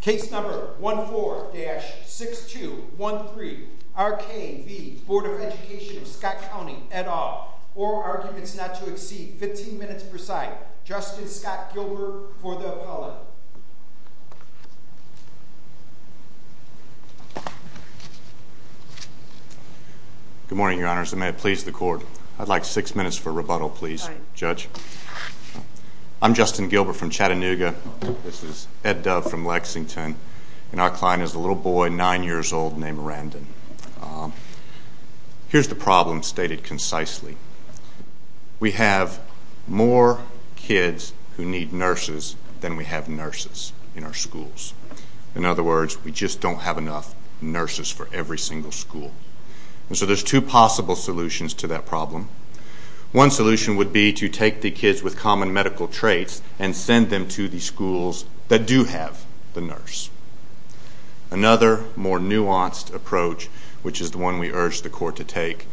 Case number 14-6213 R K v. Board of Education of Scott County, et al. Oral arguments not to exceed 15 minutes per side. Justin Scott Gilbert for the appellate. Good morning, your honors. May it please the court. I'd like six minutes for rebuttal, please, judge. I'm Justin Gilbert from Chattanooga. This is Ed Dove from Lexington. And our client is a little boy, nine years old, named Randon. Here's the problem stated concisely. We have more kids who need nurses than we have nurses in our schools. In other words, we just don't have enough nurses for every single school. And so there's two possible solutions to that problem. One solution would be to take the kids with common medical traits and send them to the schools that do have the nurse. Another more nuanced approach, which is the one we urge the court to take,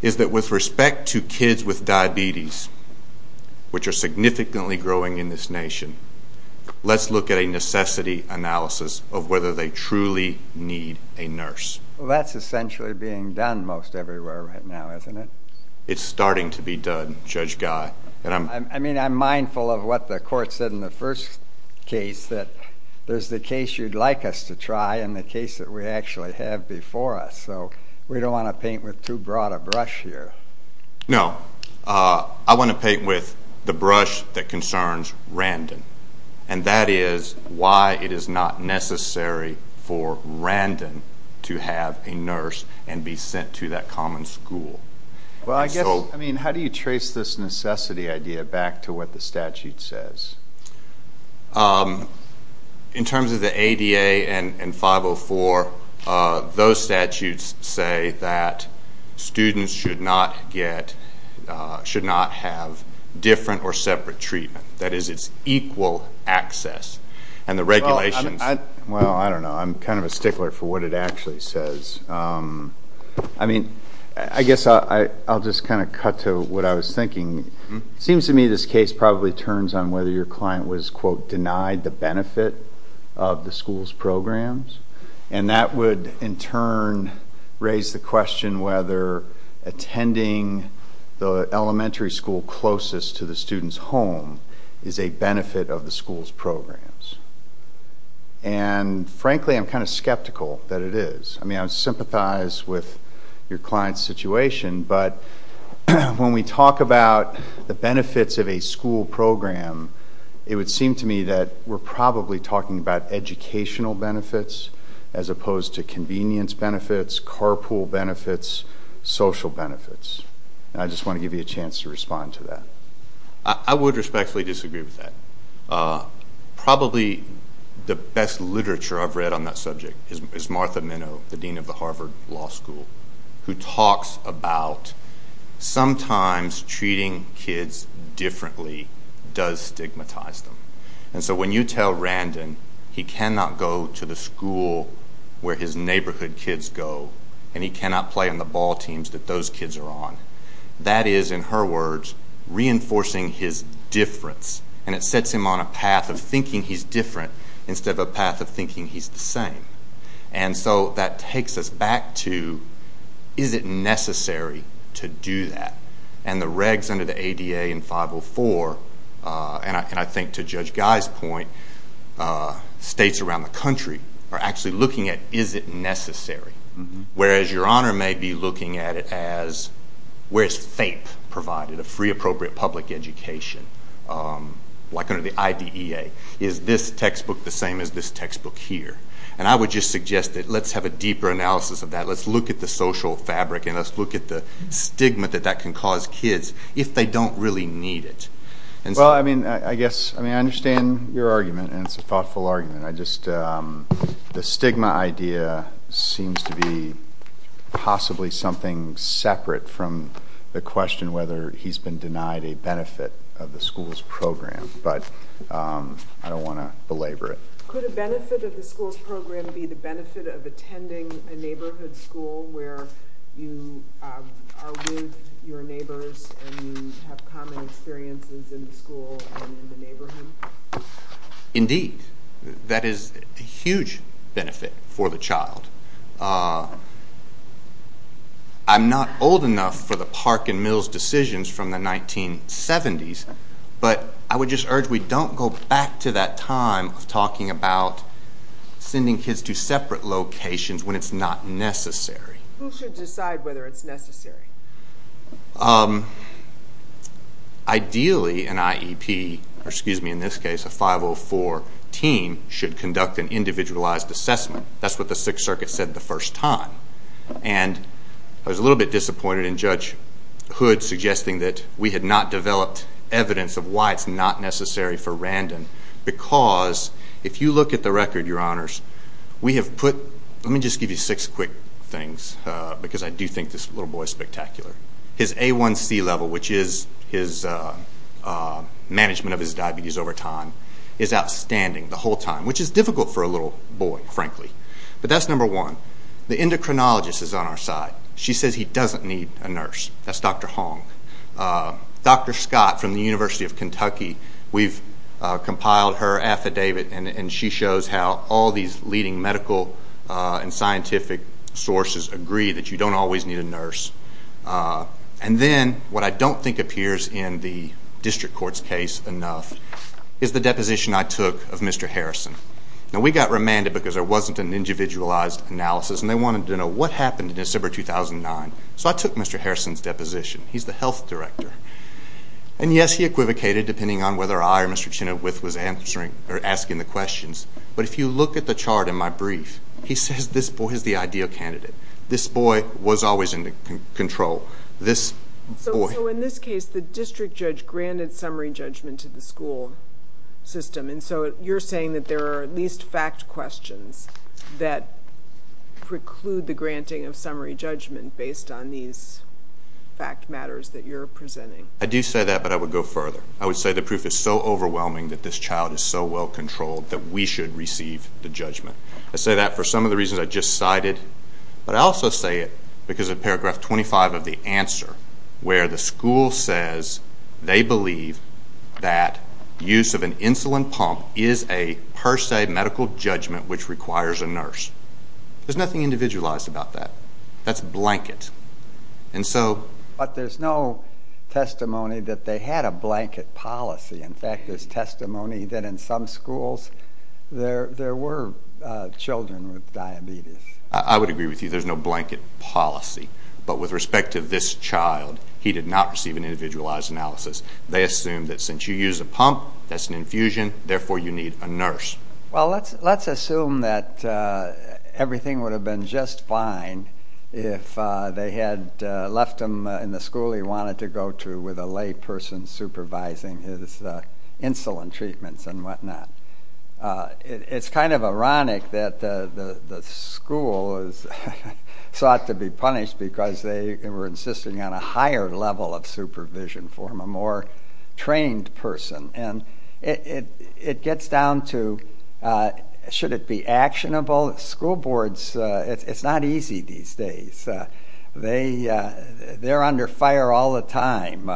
is that with respect to kids with diabetes, which are significantly growing in this nation, let's look at a necessity analysis of whether they truly need a nurse. Well, that's essentially being done most everywhere right now, isn't it? It's starting to be done, Judge Guy. I mean, I'm mindful of what the court said in the first case, that there's the case you'd like us to try and the case that we actually have before us. So we don't want to paint with too broad a brush here. No. I want to paint with the brush that concerns Randon. And that is why it is not necessary for Randon to have a nurse and be sent to that common school. Well, I guess, I mean, how do you trace this necessity idea back to what the statute says? In terms of the ADA and 504, those statutes say that students should not get, should not have different or separate treatment. That is, it's equal access. And the regulations. Well, I don't know. I'm kind of a stickler for what it actually says. I mean, I guess I'll just kind of cut to what I was thinking. It seems to me this case probably turns on whether your client was, quote, denied the benefit of the school's programs. And that would, in turn, raise the question whether attending the elementary school closest to the student's home is a benefit of the school's programs. And, frankly, I'm kind of skeptical that it is. I mean, I sympathize with your client's situation, but when we talk about the benefits of a school program, it would seem to me that we're probably talking about educational benefits as opposed to convenience benefits, carpool benefits, social benefits. And I just want to give you a chance to respond to that. I would respectfully disagree with that. Probably the best literature I've read on that subject is Martha Minow, the dean of the Harvard Law School, who talks about sometimes treating kids differently does stigmatize them. And so when you tell Randon he cannot go to the school where his neighborhood kids go and he cannot play on the ball teams that those kids are on, that is, in her words, reinforcing his difference. And it sets him on a path of thinking he's different instead of a path of thinking he's the same. And so that takes us back to is it necessary to do that? And the regs under the ADA in 504, and I think to Judge Guy's point, states around the country are actually looking at is it necessary, whereas Your Honor may be looking at it as where is FAPE provided, a free appropriate public education, like under the IDEA? Is this textbook the same as this textbook here? And I would just suggest that let's have a deeper analysis of that. Let's look at the social fabric and let's look at the stigma that that can cause kids if they don't really need it. Well, I mean, I guess, I mean, I understand your argument, and it's a thoughtful argument. I just, the stigma idea seems to be possibly something separate from the question whether he's been denied a benefit of the school's program. But I don't want to belabor it. Could a benefit of the school's program be the benefit of attending a neighborhood school where you are with your neighbors and you have common experiences in the school and in the neighborhood? Indeed. That is a huge benefit for the child. I'm not old enough for the Park and Mills decisions from the 1970s, but I would just urge we don't go back to that time of talking about sending kids to separate locations when it's not necessary. Who should decide whether it's necessary? Ideally, an IEP, or excuse me, in this case, a 504 team, should conduct an individualized assessment. That's what the Sixth Circuit said the first time. And I was a little bit disappointed in Judge Hood suggesting that we had not developed evidence of why it's not necessary for Randon because if you look at the record, Your Honors, we have put let me just give you six quick things because I do think this little boy is spectacular. His A1C level, which is his management of his diabetes over time, is outstanding the whole time, which is difficult for a little boy, frankly. But that's number one. The endocrinologist is on our side. She says he doesn't need a nurse. That's Dr. Hong. Dr. Scott from the University of Kentucky, we've compiled her affidavit, and she shows how all these leading medical and scientific sources agree that you don't always need a nurse. And then what I don't think appears in the district court's case enough is the deposition I took of Mr. Harrison. Now we got remanded because there wasn't an individualized analysis, and they wanted to know what happened in December 2009. So I took Mr. Harrison's deposition. He's the health director. And yes, he equivocated depending on whether I or Mr. Chinowith was asking the questions, but if you look at the chart in my brief, he says this boy is the ideal candidate. This boy was always in control. This boy. So in this case, the district judge granted summary judgment to the school system, and so you're saying that there are at least fact questions that preclude the granting of summary judgment based on these fact matters that you're presenting. I do say that, but I would go further. I would say the proof is so overwhelming that this child is so well-controlled that we should receive the judgment. I say that for some of the reasons I just cited, but I also say it because of paragraph 25 of the answer, where the school says they believe that use of an insulin pump is a per se medical judgment which requires a nurse. There's nothing individualized about that. That's a blanket. But there's no testimony that they had a blanket policy. In fact, there's testimony that in some schools there were children with diabetes. I would agree with you. There's no blanket policy. But with respect to this child, he did not receive an individualized analysis. They assume that since you use a pump, that's an infusion, therefore you need a nurse. Well, let's assume that everything would have been just fine if they had left him in the school he wanted to go to with a lay person supervising his insulin treatments and whatnot. It's kind of ironic that the school is sought to be punished because they were insisting on a higher level of supervision for him, a more trained person. And it gets down to, should it be actionable? School boards, it's not easy these days. They're under fire all the time.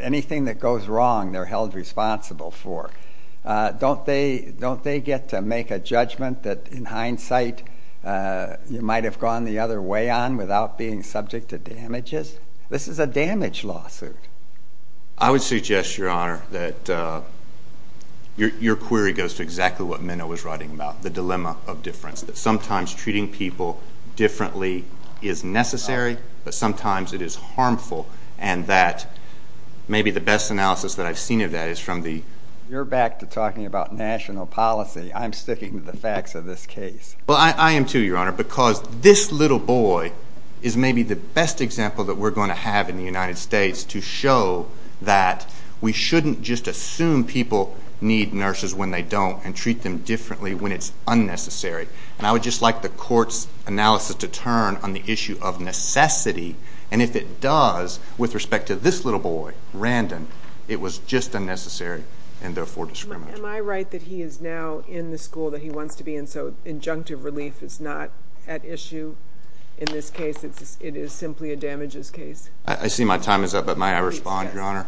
Anything that goes wrong, they're held responsible for. Don't they get to make a judgment that, in hindsight, you might have gone the other way on without being subject to damages? This is a damage lawsuit. I would suggest, Your Honor, that your query goes to exactly what Minow was writing about, the dilemma of difference, that sometimes treating people differently is necessary, but sometimes it is harmful, and that maybe the best analysis that I've seen of that is from the... You're back to talking about national policy. I'm sticking to the facts of this case. Well, I am too, Your Honor, because this little boy is maybe the best example that we're going to have in the United States to show that we shouldn't just assume people need nurses when they don't and treat them differently when it's unnecessary. And I would just like the Court's analysis to turn on the issue of necessity, and if it does with respect to this little boy, Randon, it was just unnecessary and therefore discriminatory. Am I right that he is now in the school that he wants to be in, so injunctive relief is not at issue in this case? It is simply a damages case? I see my time is up, but may I respond, Your Honor?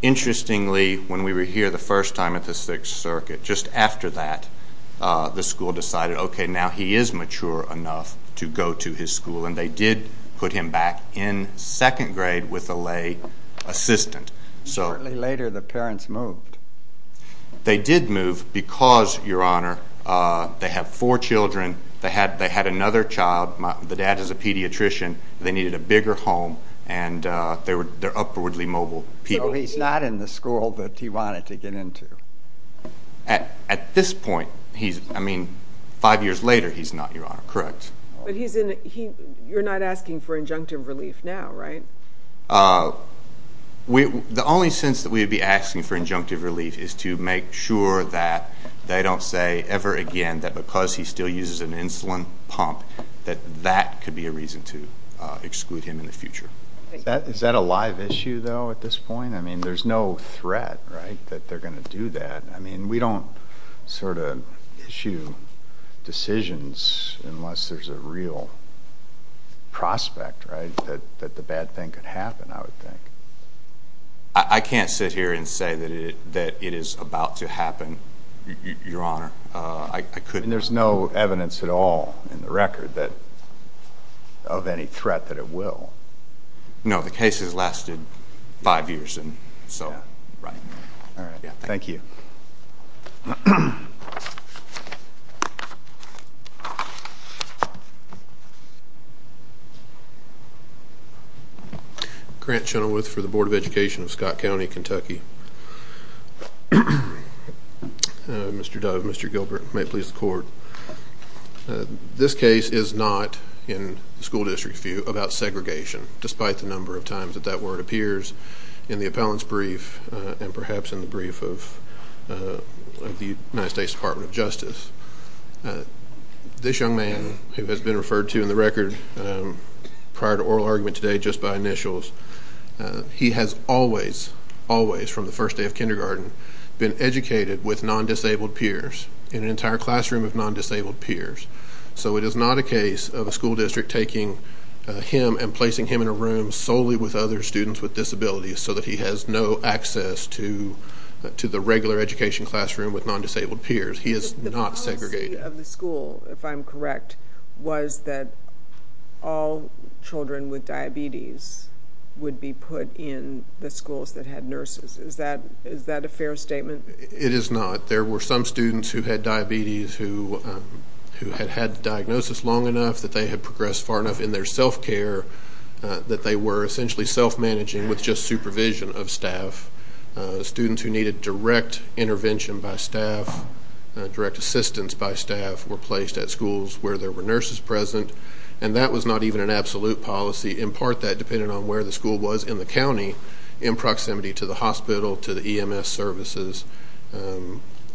Interestingly, when we were here the first time at the Sixth Circuit, just after that, the school decided, okay, now he is mature enough to go to his school, and they did put him back in second grade with a lay assistant. Shortly later, the parents moved? They did move because, Your Honor, they have four children. They had another child. The dad is a pediatrician. They needed a bigger home, and they're upwardly mobile people. So he's not in the school that he wanted to get into? At this point, I mean, five years later, he's not, Your Honor, correct. But you're not asking for injunctive relief now, right? The only sense that we would be asking for injunctive relief is to make sure that they don't say ever again that because he still uses an insulin pump, that that could be a reason to exclude him in the future. Is that a live issue, though, at this point? I mean, there's no threat, right, that they're going to do that. I mean, we don't sort of issue decisions unless there's a real prospect, right, that the bad thing could happen, I would think. I can't sit here and say that it is about to happen, Your Honor. I couldn't. And there's no evidence at all in the record of any threat that it will. No, the case has lasted five years. Right. All right. Thank you. Grant Chenoweth for the Board of Education of Scott County, Kentucky. Mr. Dove, Mr. Gilbert, may it please the Court, this case is not, in the school district's view, about segregation, despite the number of times that that word appears in the appellant's brief and perhaps in the brief of the United States Department of Justice. This young man, who has been referred to in the record prior to oral argument today just by initials, he has always, always, from the first day of kindergarten, been educated with non-disabled peers in an entire classroom of non-disabled peers. So it is not a case of a school district taking him and placing him in a room solely with other students with disabilities so that he has no access to the regular education classroom with non-disabled peers. He is not segregated. The policy of the school, if I'm correct, was that all children with diabetes would be put in the schools that had nurses. Is that a fair statement? It is not. There were some students who had diabetes who had had the diagnosis long enough that they had progressed far enough in their self-care that they were essentially self-managing with just supervision of staff. Students who needed direct intervention by staff, direct assistance by staff, were placed at schools where there were nurses present, and that was not even an absolute policy. In part, that depended on where the school was in the county in proximity to the hospital, to the EMS services.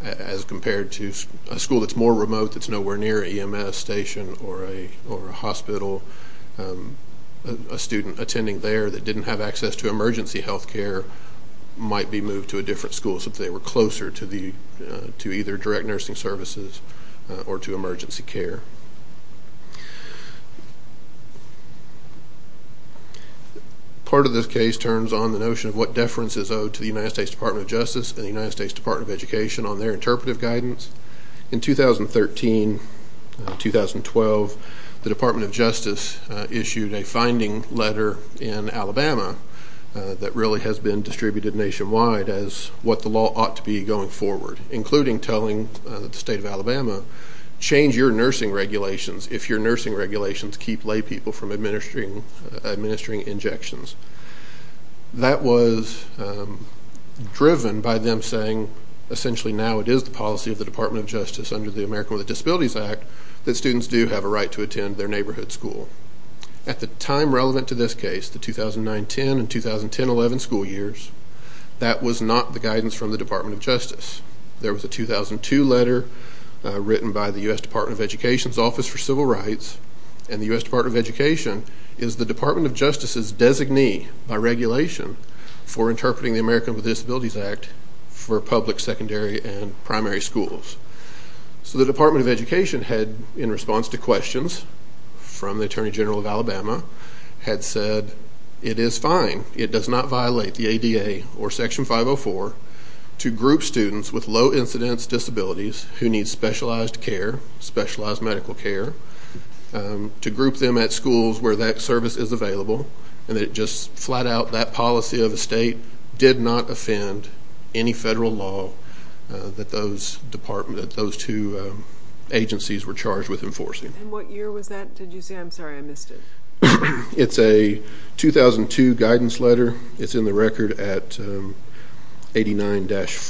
As compared to a school that's more remote, that's nowhere near an EMS station or a hospital, a student attending there that didn't have access to emergency health care might be moved to a different school so that they were closer to either direct nursing services or to emergency care. Part of this case turns on the notion of what deference is owed to the United States Department of Justice and the United States Department of Education on their interpretive guidance. In 2013-2012, the Department of Justice issued a finding letter in Alabama that really has been distributed nationwide as what the law ought to be going forward, including telling the state of Alabama, change your nursing regulations if your nursing regulations keep lay people from administering injections. That was driven by them saying, essentially now it is the policy of the Department of Justice under the American with Disabilities Act that students do have a right to attend their neighborhood school. At the time relevant to this case, the 2009-10 and 2010-11 school years, that was not the guidance from the Department of Justice. There was a 2002 letter written by the U.S. Department of Education's Office for Civil Rights, and the U.S. Department of Education is the Department of Justice's designee by regulation for interpreting the American with Disabilities Act for public secondary and primary schools. So the Department of Education had, in response to questions from the Attorney General of Alabama, had said, that it is fine, it does not violate the ADA or Section 504 to group students with low incidence disabilities who need specialized care, specialized medical care, to group them at schools where that service is available, and that it just flat out, that policy of the state did not offend any federal law that those two agencies were charged with enforcing. And what year was that? Did you say? I'm sorry, I missed it. It's a 2002 guidance letter. It's in the record at 89-4,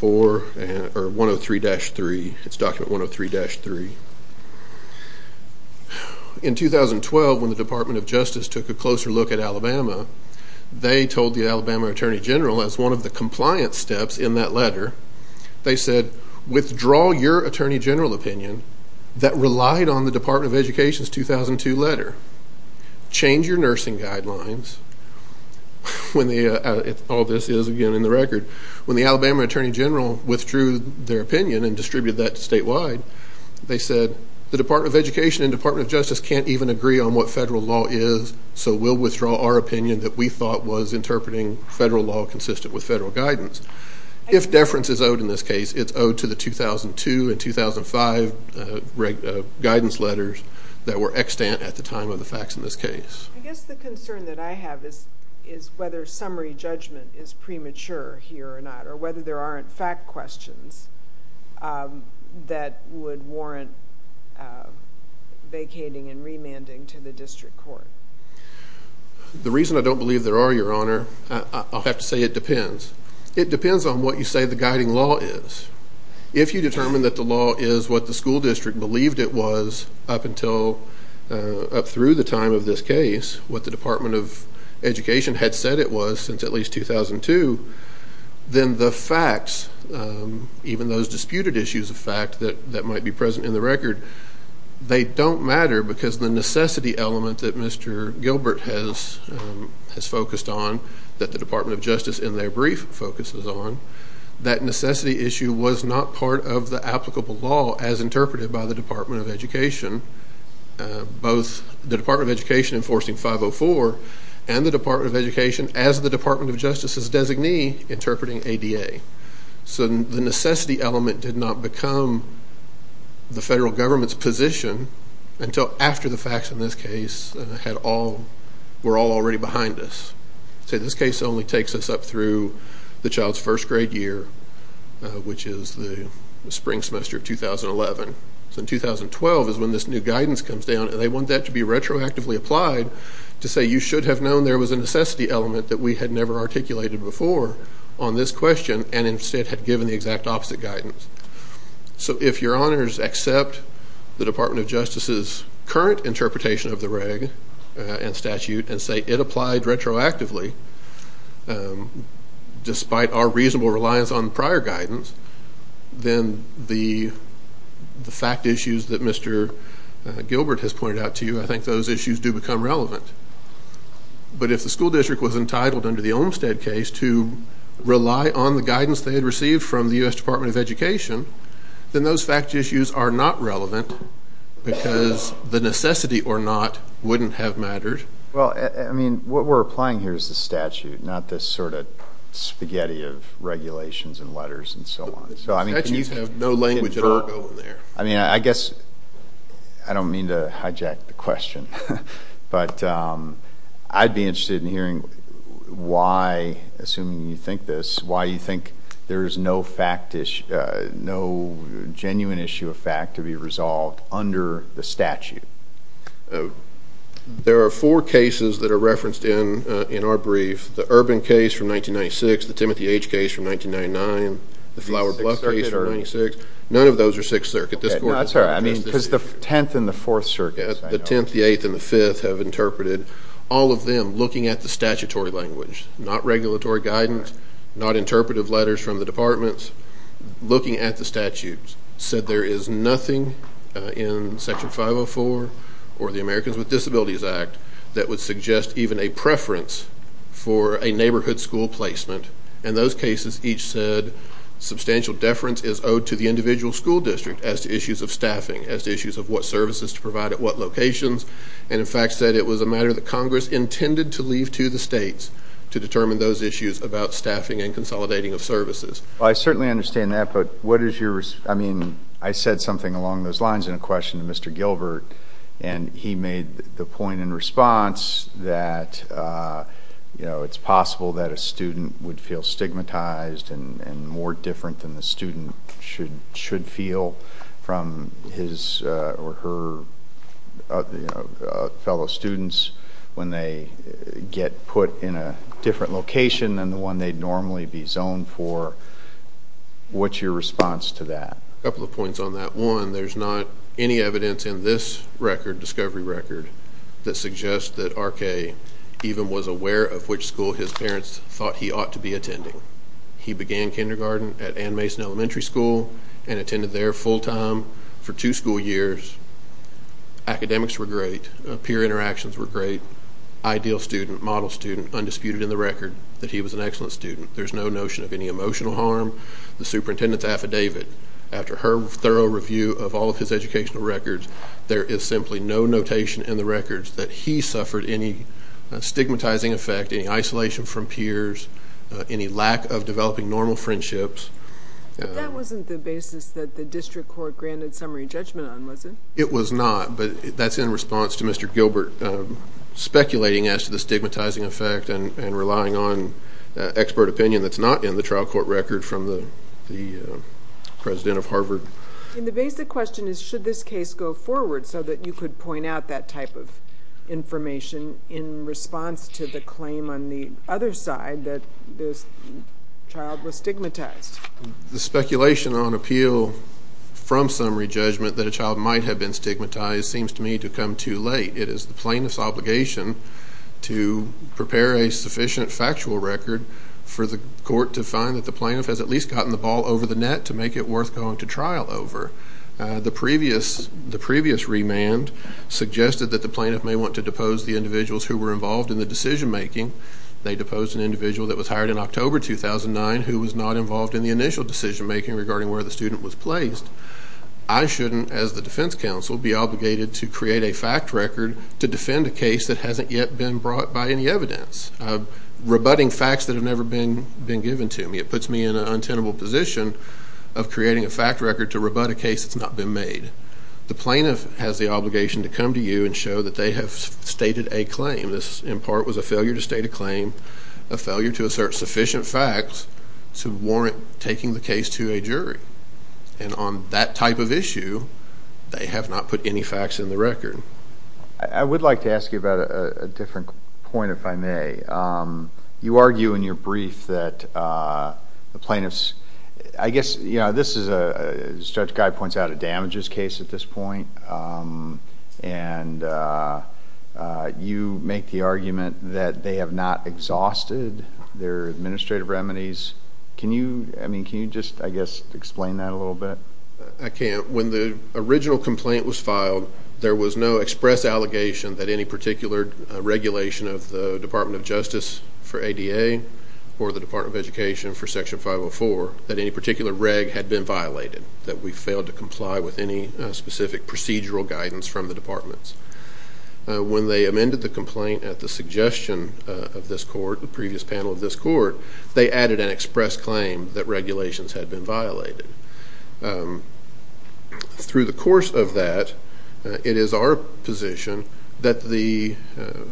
or 103-3. It's document 103-3. In 2012, when the Department of Justice took a closer look at Alabama, they told the Alabama Attorney General, as one of the compliance steps in that letter, they said, withdraw your Attorney General opinion that relied on the Department of Education's 2002 letter. Change your nursing guidelines. All this is, again, in the record. When the Alabama Attorney General withdrew their opinion and distributed that statewide, they said, the Department of Education and Department of Justice can't even agree on what federal law is, so we'll withdraw our opinion that we thought was interpreting federal law consistent with federal guidance. If deference is owed in this case, it's owed to the 2002 and 2005 guidance letters that were extant at the time of the facts in this case. I guess the concern that I have is whether summary judgment is premature here or not, or whether there aren't fact questions that would warrant vacating and remanding to the district court. The reason I don't believe there are, Your Honor, I'll have to say it depends. It depends on what you say the guiding law is. If you determine that the law is what the school district believed it was up through the time of this case, what the Department of Education had said it was since at least 2002, then the facts, even those disputed issues of fact that might be present in the record, they don't matter because the necessity element that Mr. Gilbert has focused on, that the Department of Justice in their brief focuses on, that necessity issue was not part of the applicable law as interpreted by the Department of Education, both the Department of Education enforcing 504 and the Department of Education as the Department of Justice's designee interpreting ADA. So the necessity element did not become the federal government's position until after the facts in this case were all already behind us. So this case only takes us up through the child's first grade year, which is the spring semester of 2011. So in 2012 is when this new guidance comes down, and they want that to be retroactively applied to say you should have known there was a necessity element that we had never articulated before on this question and instead had given the exact opposite guidance. So if your honors accept the Department of Justice's current interpretation of the reg and statute and say it applied retroactively, despite our reasonable reliance on prior guidance, then the fact issues that Mr. Gilbert has pointed out to you, I think those issues do become relevant. But if the school district was entitled under the Olmstead case to rely on the guidance they had received from the U.S. Department of Education, then those fact issues are not relevant because the necessity or not wouldn't have mattered. Well, I mean, what we're applying here is the statute, not this sort of spaghetti of regulations and letters and so on. The statute has no language at all going there. I mean, I guess I don't mean to hijack the question, but I'd be interested in hearing why, assuming you think this, why you think there is no genuine issue of fact to be resolved under the statute. There are four cases that are referenced in our brief, the Urban case from 1996, the Timothy H. case from 1999, the Flower Bluff case from 1996. None of those are Sixth Circuit. That's all right. I mean, because the Tenth and the Fourth Circuit. The Tenth, the Eighth, and the Fifth have interpreted. All of them, looking at the statutory language, not regulatory guidance, not interpretive letters from the departments, looking at the statute said there is nothing in Section 504 or the Americans with Disabilities Act that would suggest even a preference for a neighborhood school placement, and those cases each said substantial deference is owed to the individual school district as to issues of staffing, as to issues of what services to provide at what locations, and, in fact, said it was a matter that Congress intended to leave to the states to determine those issues about staffing and consolidating of services. Well, I certainly understand that, but what is your—I mean, I said something along those lines in a question to Mr. Gilbert, and he made the point in response that, you know, it's possible that a student would feel stigmatized and more different than the student should feel from his or her fellow students when they get put in a different location than the one they'd normally be zoned for. What's your response to that? A couple of points on that. One, there's not any evidence in this record, discovery record, that suggests that R.K. even was aware of which school his parents thought he ought to be attending. He began kindergarten at Ann Mason Elementary School and attended there full-time for two school years. Academics were great. Peer interactions were great. Ideal student, model student, undisputed in the record that he was an excellent student. There's no notion of any emotional harm. The superintendent's affidavit, after her thorough review of all of his educational records, there is simply no notation in the records that he suffered any stigmatizing effect, any isolation from peers, any lack of developing normal friendships. But that wasn't the basis that the district court granted summary judgment on, was it? It was not, but that's in response to Mr. Gilbert speculating as to the stigmatizing effect and relying on expert opinion that's not in the trial court record from the president of Harvard. And the basic question is, should this case go forward so that you could point out that type of information in response to the claim on the other side that this child was stigmatized? The speculation on appeal from summary judgment that a child might have been stigmatized seems to me to come too late. It is the plaintiff's obligation to prepare a sufficient factual record for the court to find that the plaintiff has at least gotten the ball over the net to make it worth going to trial over. The previous remand suggested that the plaintiff may want to depose the individuals who were involved in the decision-making. They deposed an individual that was hired in October 2009 who was not involved in the initial decision-making regarding where the student was placed. I shouldn't, as the defense counsel, be obligated to create a fact record to defend a case that hasn't yet been brought by any evidence, rebutting facts that have never been given to me. It puts me in an untenable position of creating a fact record to rebut a case that's not been made. The plaintiff has the obligation to come to you and show that they have stated a claim. This, in part, was a failure to state a claim, a failure to assert sufficient facts to warrant taking the case to a jury. And on that type of issue, they have not put any facts in the record. I would like to ask you about a different point, if I may. You argue in your brief that the plaintiffs, I guess, you know, this is, as Judge Guy points out, a damages case at this point, and you make the argument that they have not exhausted their administrative remedies. Can you, I mean, can you just, I guess, explain that a little bit? I can't. When the original complaint was filed, there was no express allegation that any particular regulation of the Department of Justice for ADA or the Department of Education for Section 504, that any particular reg had been violated, that we failed to comply with any specific procedural guidance from the departments. When they amended the complaint at the suggestion of this court, the previous panel of this court, they added an express claim that regulations had been violated. Through the course of that, it is our position that the,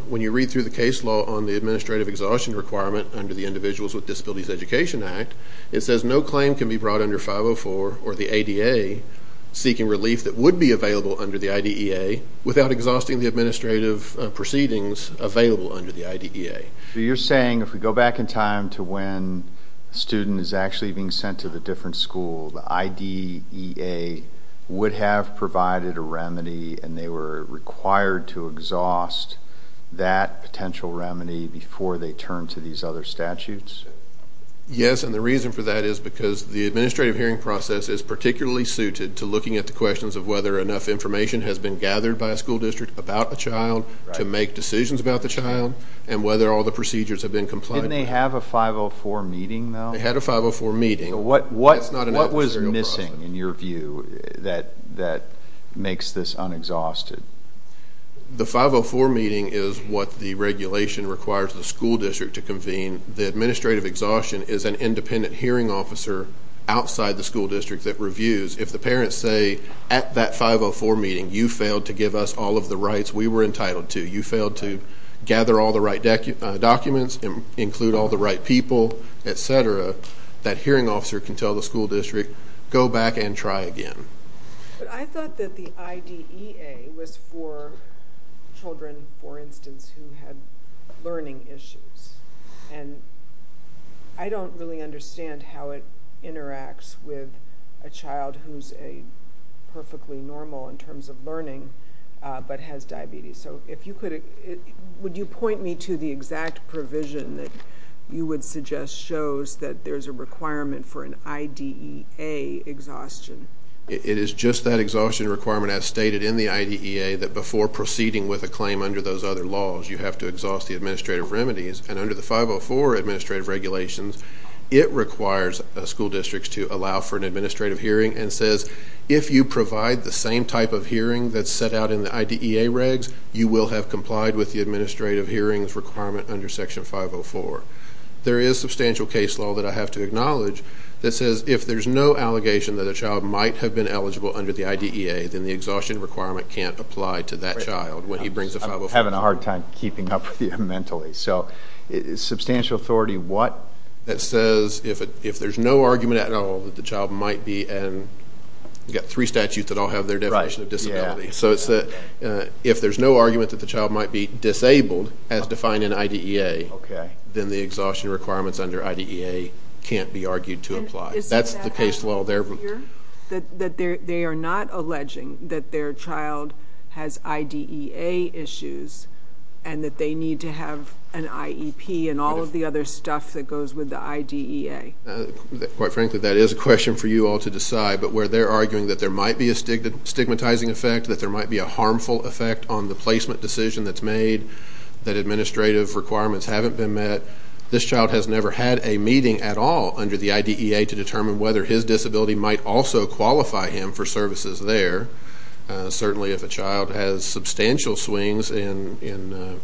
when you read through the case law on the administrative exhaustion requirement under the Individuals with Disabilities Education Act, it says no claim can be brought under 504 or the ADA seeking relief that would be available under the IDEA without exhausting the administrative proceedings available under the IDEA. So you're saying if we go back in time to when a student is actually being sent to the different school, the IDEA would have provided a remedy and they were required to exhaust that potential remedy before they turned to these other statutes? Yes, and the reason for that is because the administrative hearing process is particularly suited to looking at the questions of whether enough information has been gathered by a school district to make decisions about the child and whether all the procedures have been complied with. Didn't they have a 504 meeting, though? They had a 504 meeting. What was missing in your view that makes this unexhausted? The 504 meeting is what the regulation requires the school district to convene. The administrative exhaustion is an independent hearing officer outside the school district that reviews. If the parents say at that 504 meeting you failed to give us all of the rights we were entitled to, you failed to gather all the right documents, include all the right people, et cetera, that hearing officer can tell the school district go back and try again. But I thought that the IDEA was for children, for instance, who had learning issues, and I don't really understand how it interacts with a child who's perfectly normal in terms of learning but has diabetes. So if you could, would you point me to the exact provision that you would suggest shows that there's a requirement for an IDEA exhaustion? It is just that exhaustion requirement as stated in the IDEA that before proceeding with a claim under those other laws, you have to exhaust the administrative remedies. And under the 504 administrative regulations, it requires school districts to allow for an administrative hearing and says if you provide the same type of hearing that's set out in the IDEA regs, you will have complied with the administrative hearings requirement under Section 504. There is substantial case law that I have to acknowledge that says if there's no allegation that a child might have been eligible under the IDEA, then the exhaustion requirement can't apply to that child when he brings a 504. I'm having a hard time keeping up with you mentally. So substantial authority, what? It says if there's no argument at all that the child might be, and you've got three statutes that all have their definition of disability. So it's that if there's no argument that the child might be disabled as defined in IDEA, then the exhaustion requirements under IDEA can't be argued to apply. That's the case law there. That they are not alleging that their child has IDEA issues and that they need to have an IEP and all of the other stuff that goes with the IDEA. Quite frankly, that is a question for you all to decide. But where they're arguing that there might be a stigmatizing effect, that there might be a harmful effect on the placement decision that's made, that administrative requirements haven't been met, that this child has never had a meeting at all under the IDEA to determine whether his disability might also qualify him for services there. Certainly if a child has substantial swings in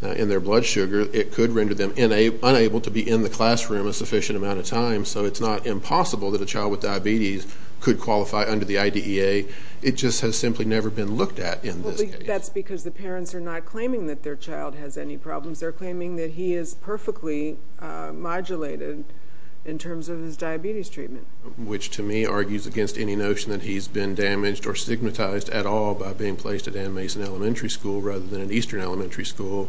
their blood sugar, it could render them unable to be in the classroom a sufficient amount of time. So it's not impossible that a child with diabetes could qualify under the IDEA. It just has simply never been looked at in this case. That's because the parents are not claiming that their child has any problems. They're claiming that he is perfectly modulated in terms of his diabetes treatment. Which to me argues against any notion that he's been damaged or stigmatized at all by being placed at Ann Mason Elementary School rather than at Eastern Elementary School,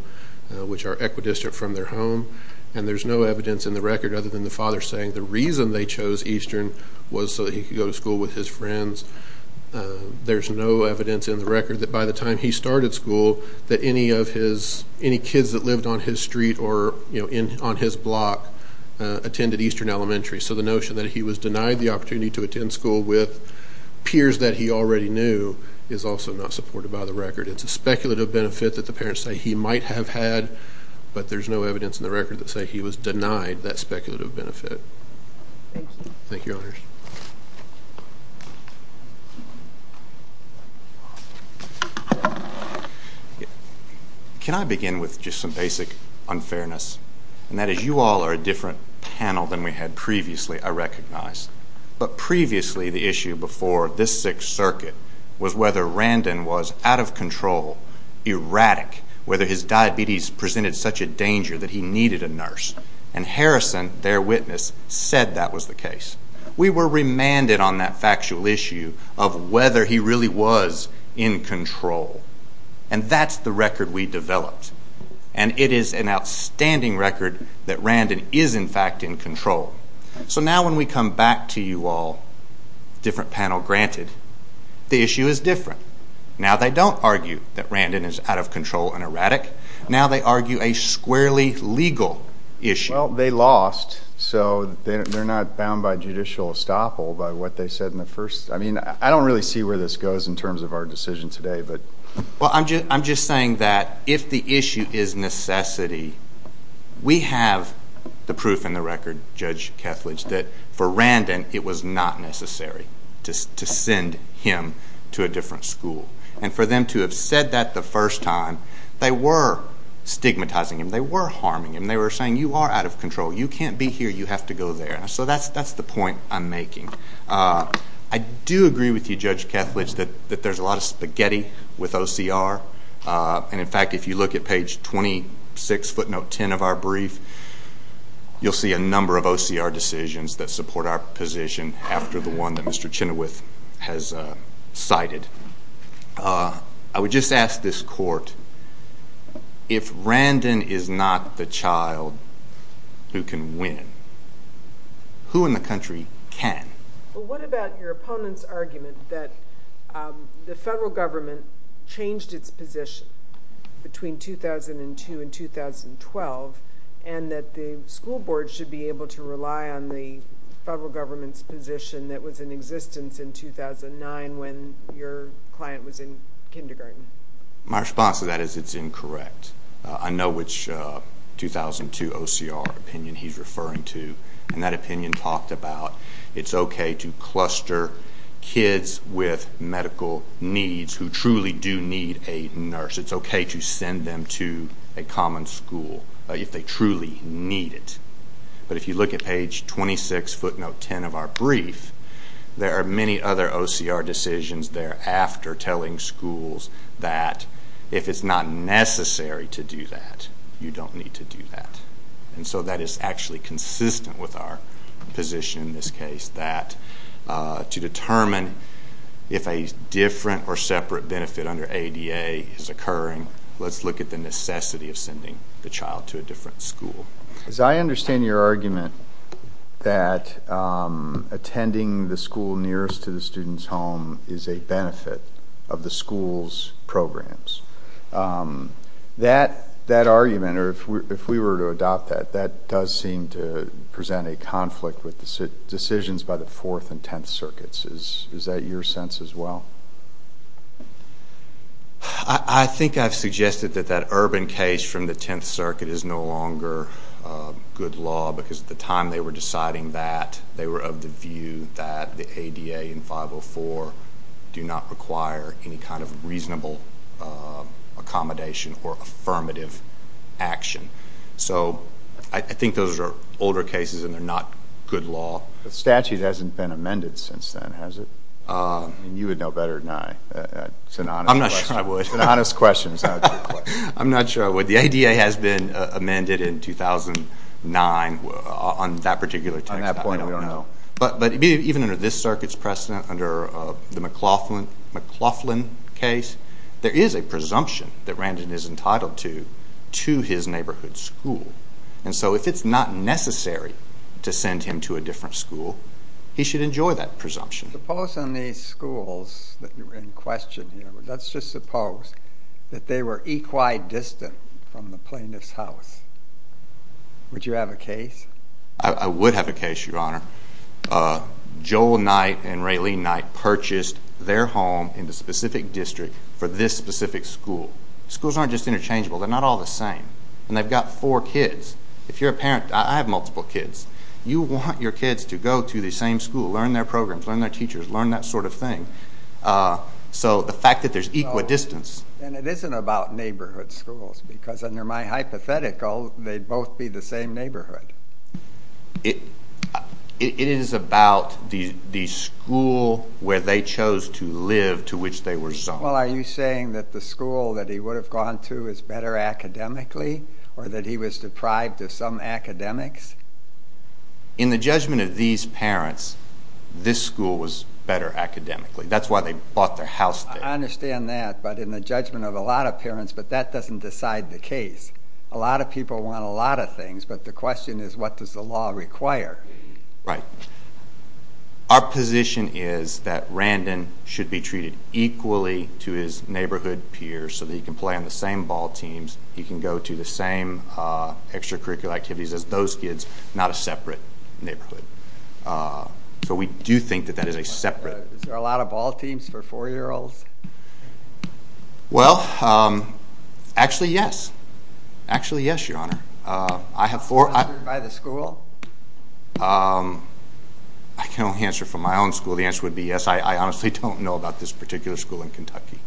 which are equidistant from their home. And there's no evidence in the record other than the father saying the reason they chose Eastern was so that he could go to school with his friends. There's no evidence in the record that by the time he started school that any kids that lived on his street or on his block attended Eastern Elementary. So the notion that he was denied the opportunity to attend school with peers that he already knew is also not supported by the record. It's a speculative benefit that the parents say he might have had, but there's no evidence in the record that say he was denied that speculative benefit. Thank you. Can I begin with just some basic unfairness? And that is you all are a different panel than we had previously, I recognize. But previously the issue before this Sixth Circuit was whether Randon was out of control, erratic, whether his diabetes presented such a danger that he needed a nurse. And Harrison, their witness, said that was the case. We were remanded on that factual issue of whether he really was in control. And that's the record we developed. And it is an outstanding record that Randon is in fact in control. So now when we come back to you all, different panel granted, the issue is different. Now they don't argue that Randon is out of control and erratic. Now they argue a squarely legal issue. Well, they lost, so they're not bound by judicial estoppel by what they said in the first. I mean, I don't really see where this goes in terms of our decision today. Well, I'm just saying that if the issue is necessity, we have the proof in the record, Judge Kethledge, that for Randon it was not necessary to send him to a different school. And for them to have said that the first time, they were stigmatizing him. They were harming him. They were saying, you are out of control. You can't be here. You have to go there. So that's the point I'm making. I do agree with you, Judge Kethledge, that there's a lot of spaghetti with OCR. And in fact, if you look at page 26, footnote 10 of our brief, you'll see a number of OCR decisions that support our position after the one that Mr. Chenoweth has cited. I would just ask this court, if Randon is not the child who can win, who in the country can? Well, what about your opponent's argument that the federal government changed its position between 2002 and 2012 and that the school board should be able to rely on the federal government's position that was in existence in 2009 when your client was in kindergarten? My response to that is it's incorrect. I know which 2002 OCR opinion he's referring to. And that opinion talked about it's okay to cluster kids with medical needs who truly do need a nurse. It's okay to send them to a common school if they truly need it. But if you look at page 26, footnote 10 of our brief, there are many other OCR decisions thereafter telling schools that if it's not necessary to do that, you don't need to do that. And so that is actually consistent with our position in this case, that to determine if a different or separate benefit under ADA is occurring, let's look at the necessity of sending the child to a different school. As I understand your argument that attending the school nearest to the student's home is a benefit of the school's programs, that argument, or if we were to adopt that, that does seem to present a conflict with decisions by the Fourth and Tenth Circuits. Is that your sense as well? I think I've suggested that that Urban case from the Tenth Circuit is no longer good law because at the time they were deciding that, they were of the view that the ADA and 504 do not require any kind of reasonable accommodation or affirmative action. So I think those are older cases and they're not good law. The statute hasn't been amended since then, has it? You would know better than I. It's an honest question. I'm not sure I would. It's an honest question. I'm not sure I would. The ADA has been amended in 2009 on that particular text. I don't know. But even under this circuit's precedent, under the McLaughlin case, there is a presumption that Randon is entitled to his neighborhood school. And so if it's not necessary to send him to a different school, he should enjoy that presumption. Suppose in these schools that you're in question here, let's just suppose that they were equi-distant from the plaintiff's house. Would you have a case? I would have a case, Your Honor. Joel Knight and Raylene Knight purchased their home in the specific district for this specific school. Schools aren't just interchangeable. They're not all the same. And they've got four kids. If you're a parent, I have multiple kids. You want your kids to go to the same school, learn their programs, learn their teachers, learn that sort of thing. So the fact that there's equi-distance. And it isn't about neighborhood schools because under my hypothetical, they'd both be the same neighborhood. It is about the school where they chose to live to which they were zoned. Well, are you saying that the school that he would have gone to is better academically or that he was deprived of some academics? In the judgment of these parents, this school was better academically. That's why they bought their house there. I understand that, but in the judgment of a lot of parents, but that doesn't decide the case. A lot of people want a lot of things, but the question is what does the law require? Right. Our position is that Randon should be treated equally to his neighborhood peers so that he can play on the same ball teams, he can go to the same extracurricular activities as those kids, not a separate neighborhood. So we do think that that is a separate. Is there a lot of ball teams for 4-year-olds? Well, actually, yes. Actually, yes, Your Honor. By the school? I can only answer from my own school. The answer would be yes. I honestly don't know about this particular school in Kentucky.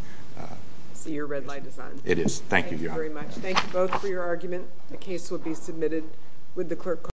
So your red light is on. It is. Thank you, Your Honor. Thank you very much. Thank you both for your argument. The case will be submitted with the clerk calling.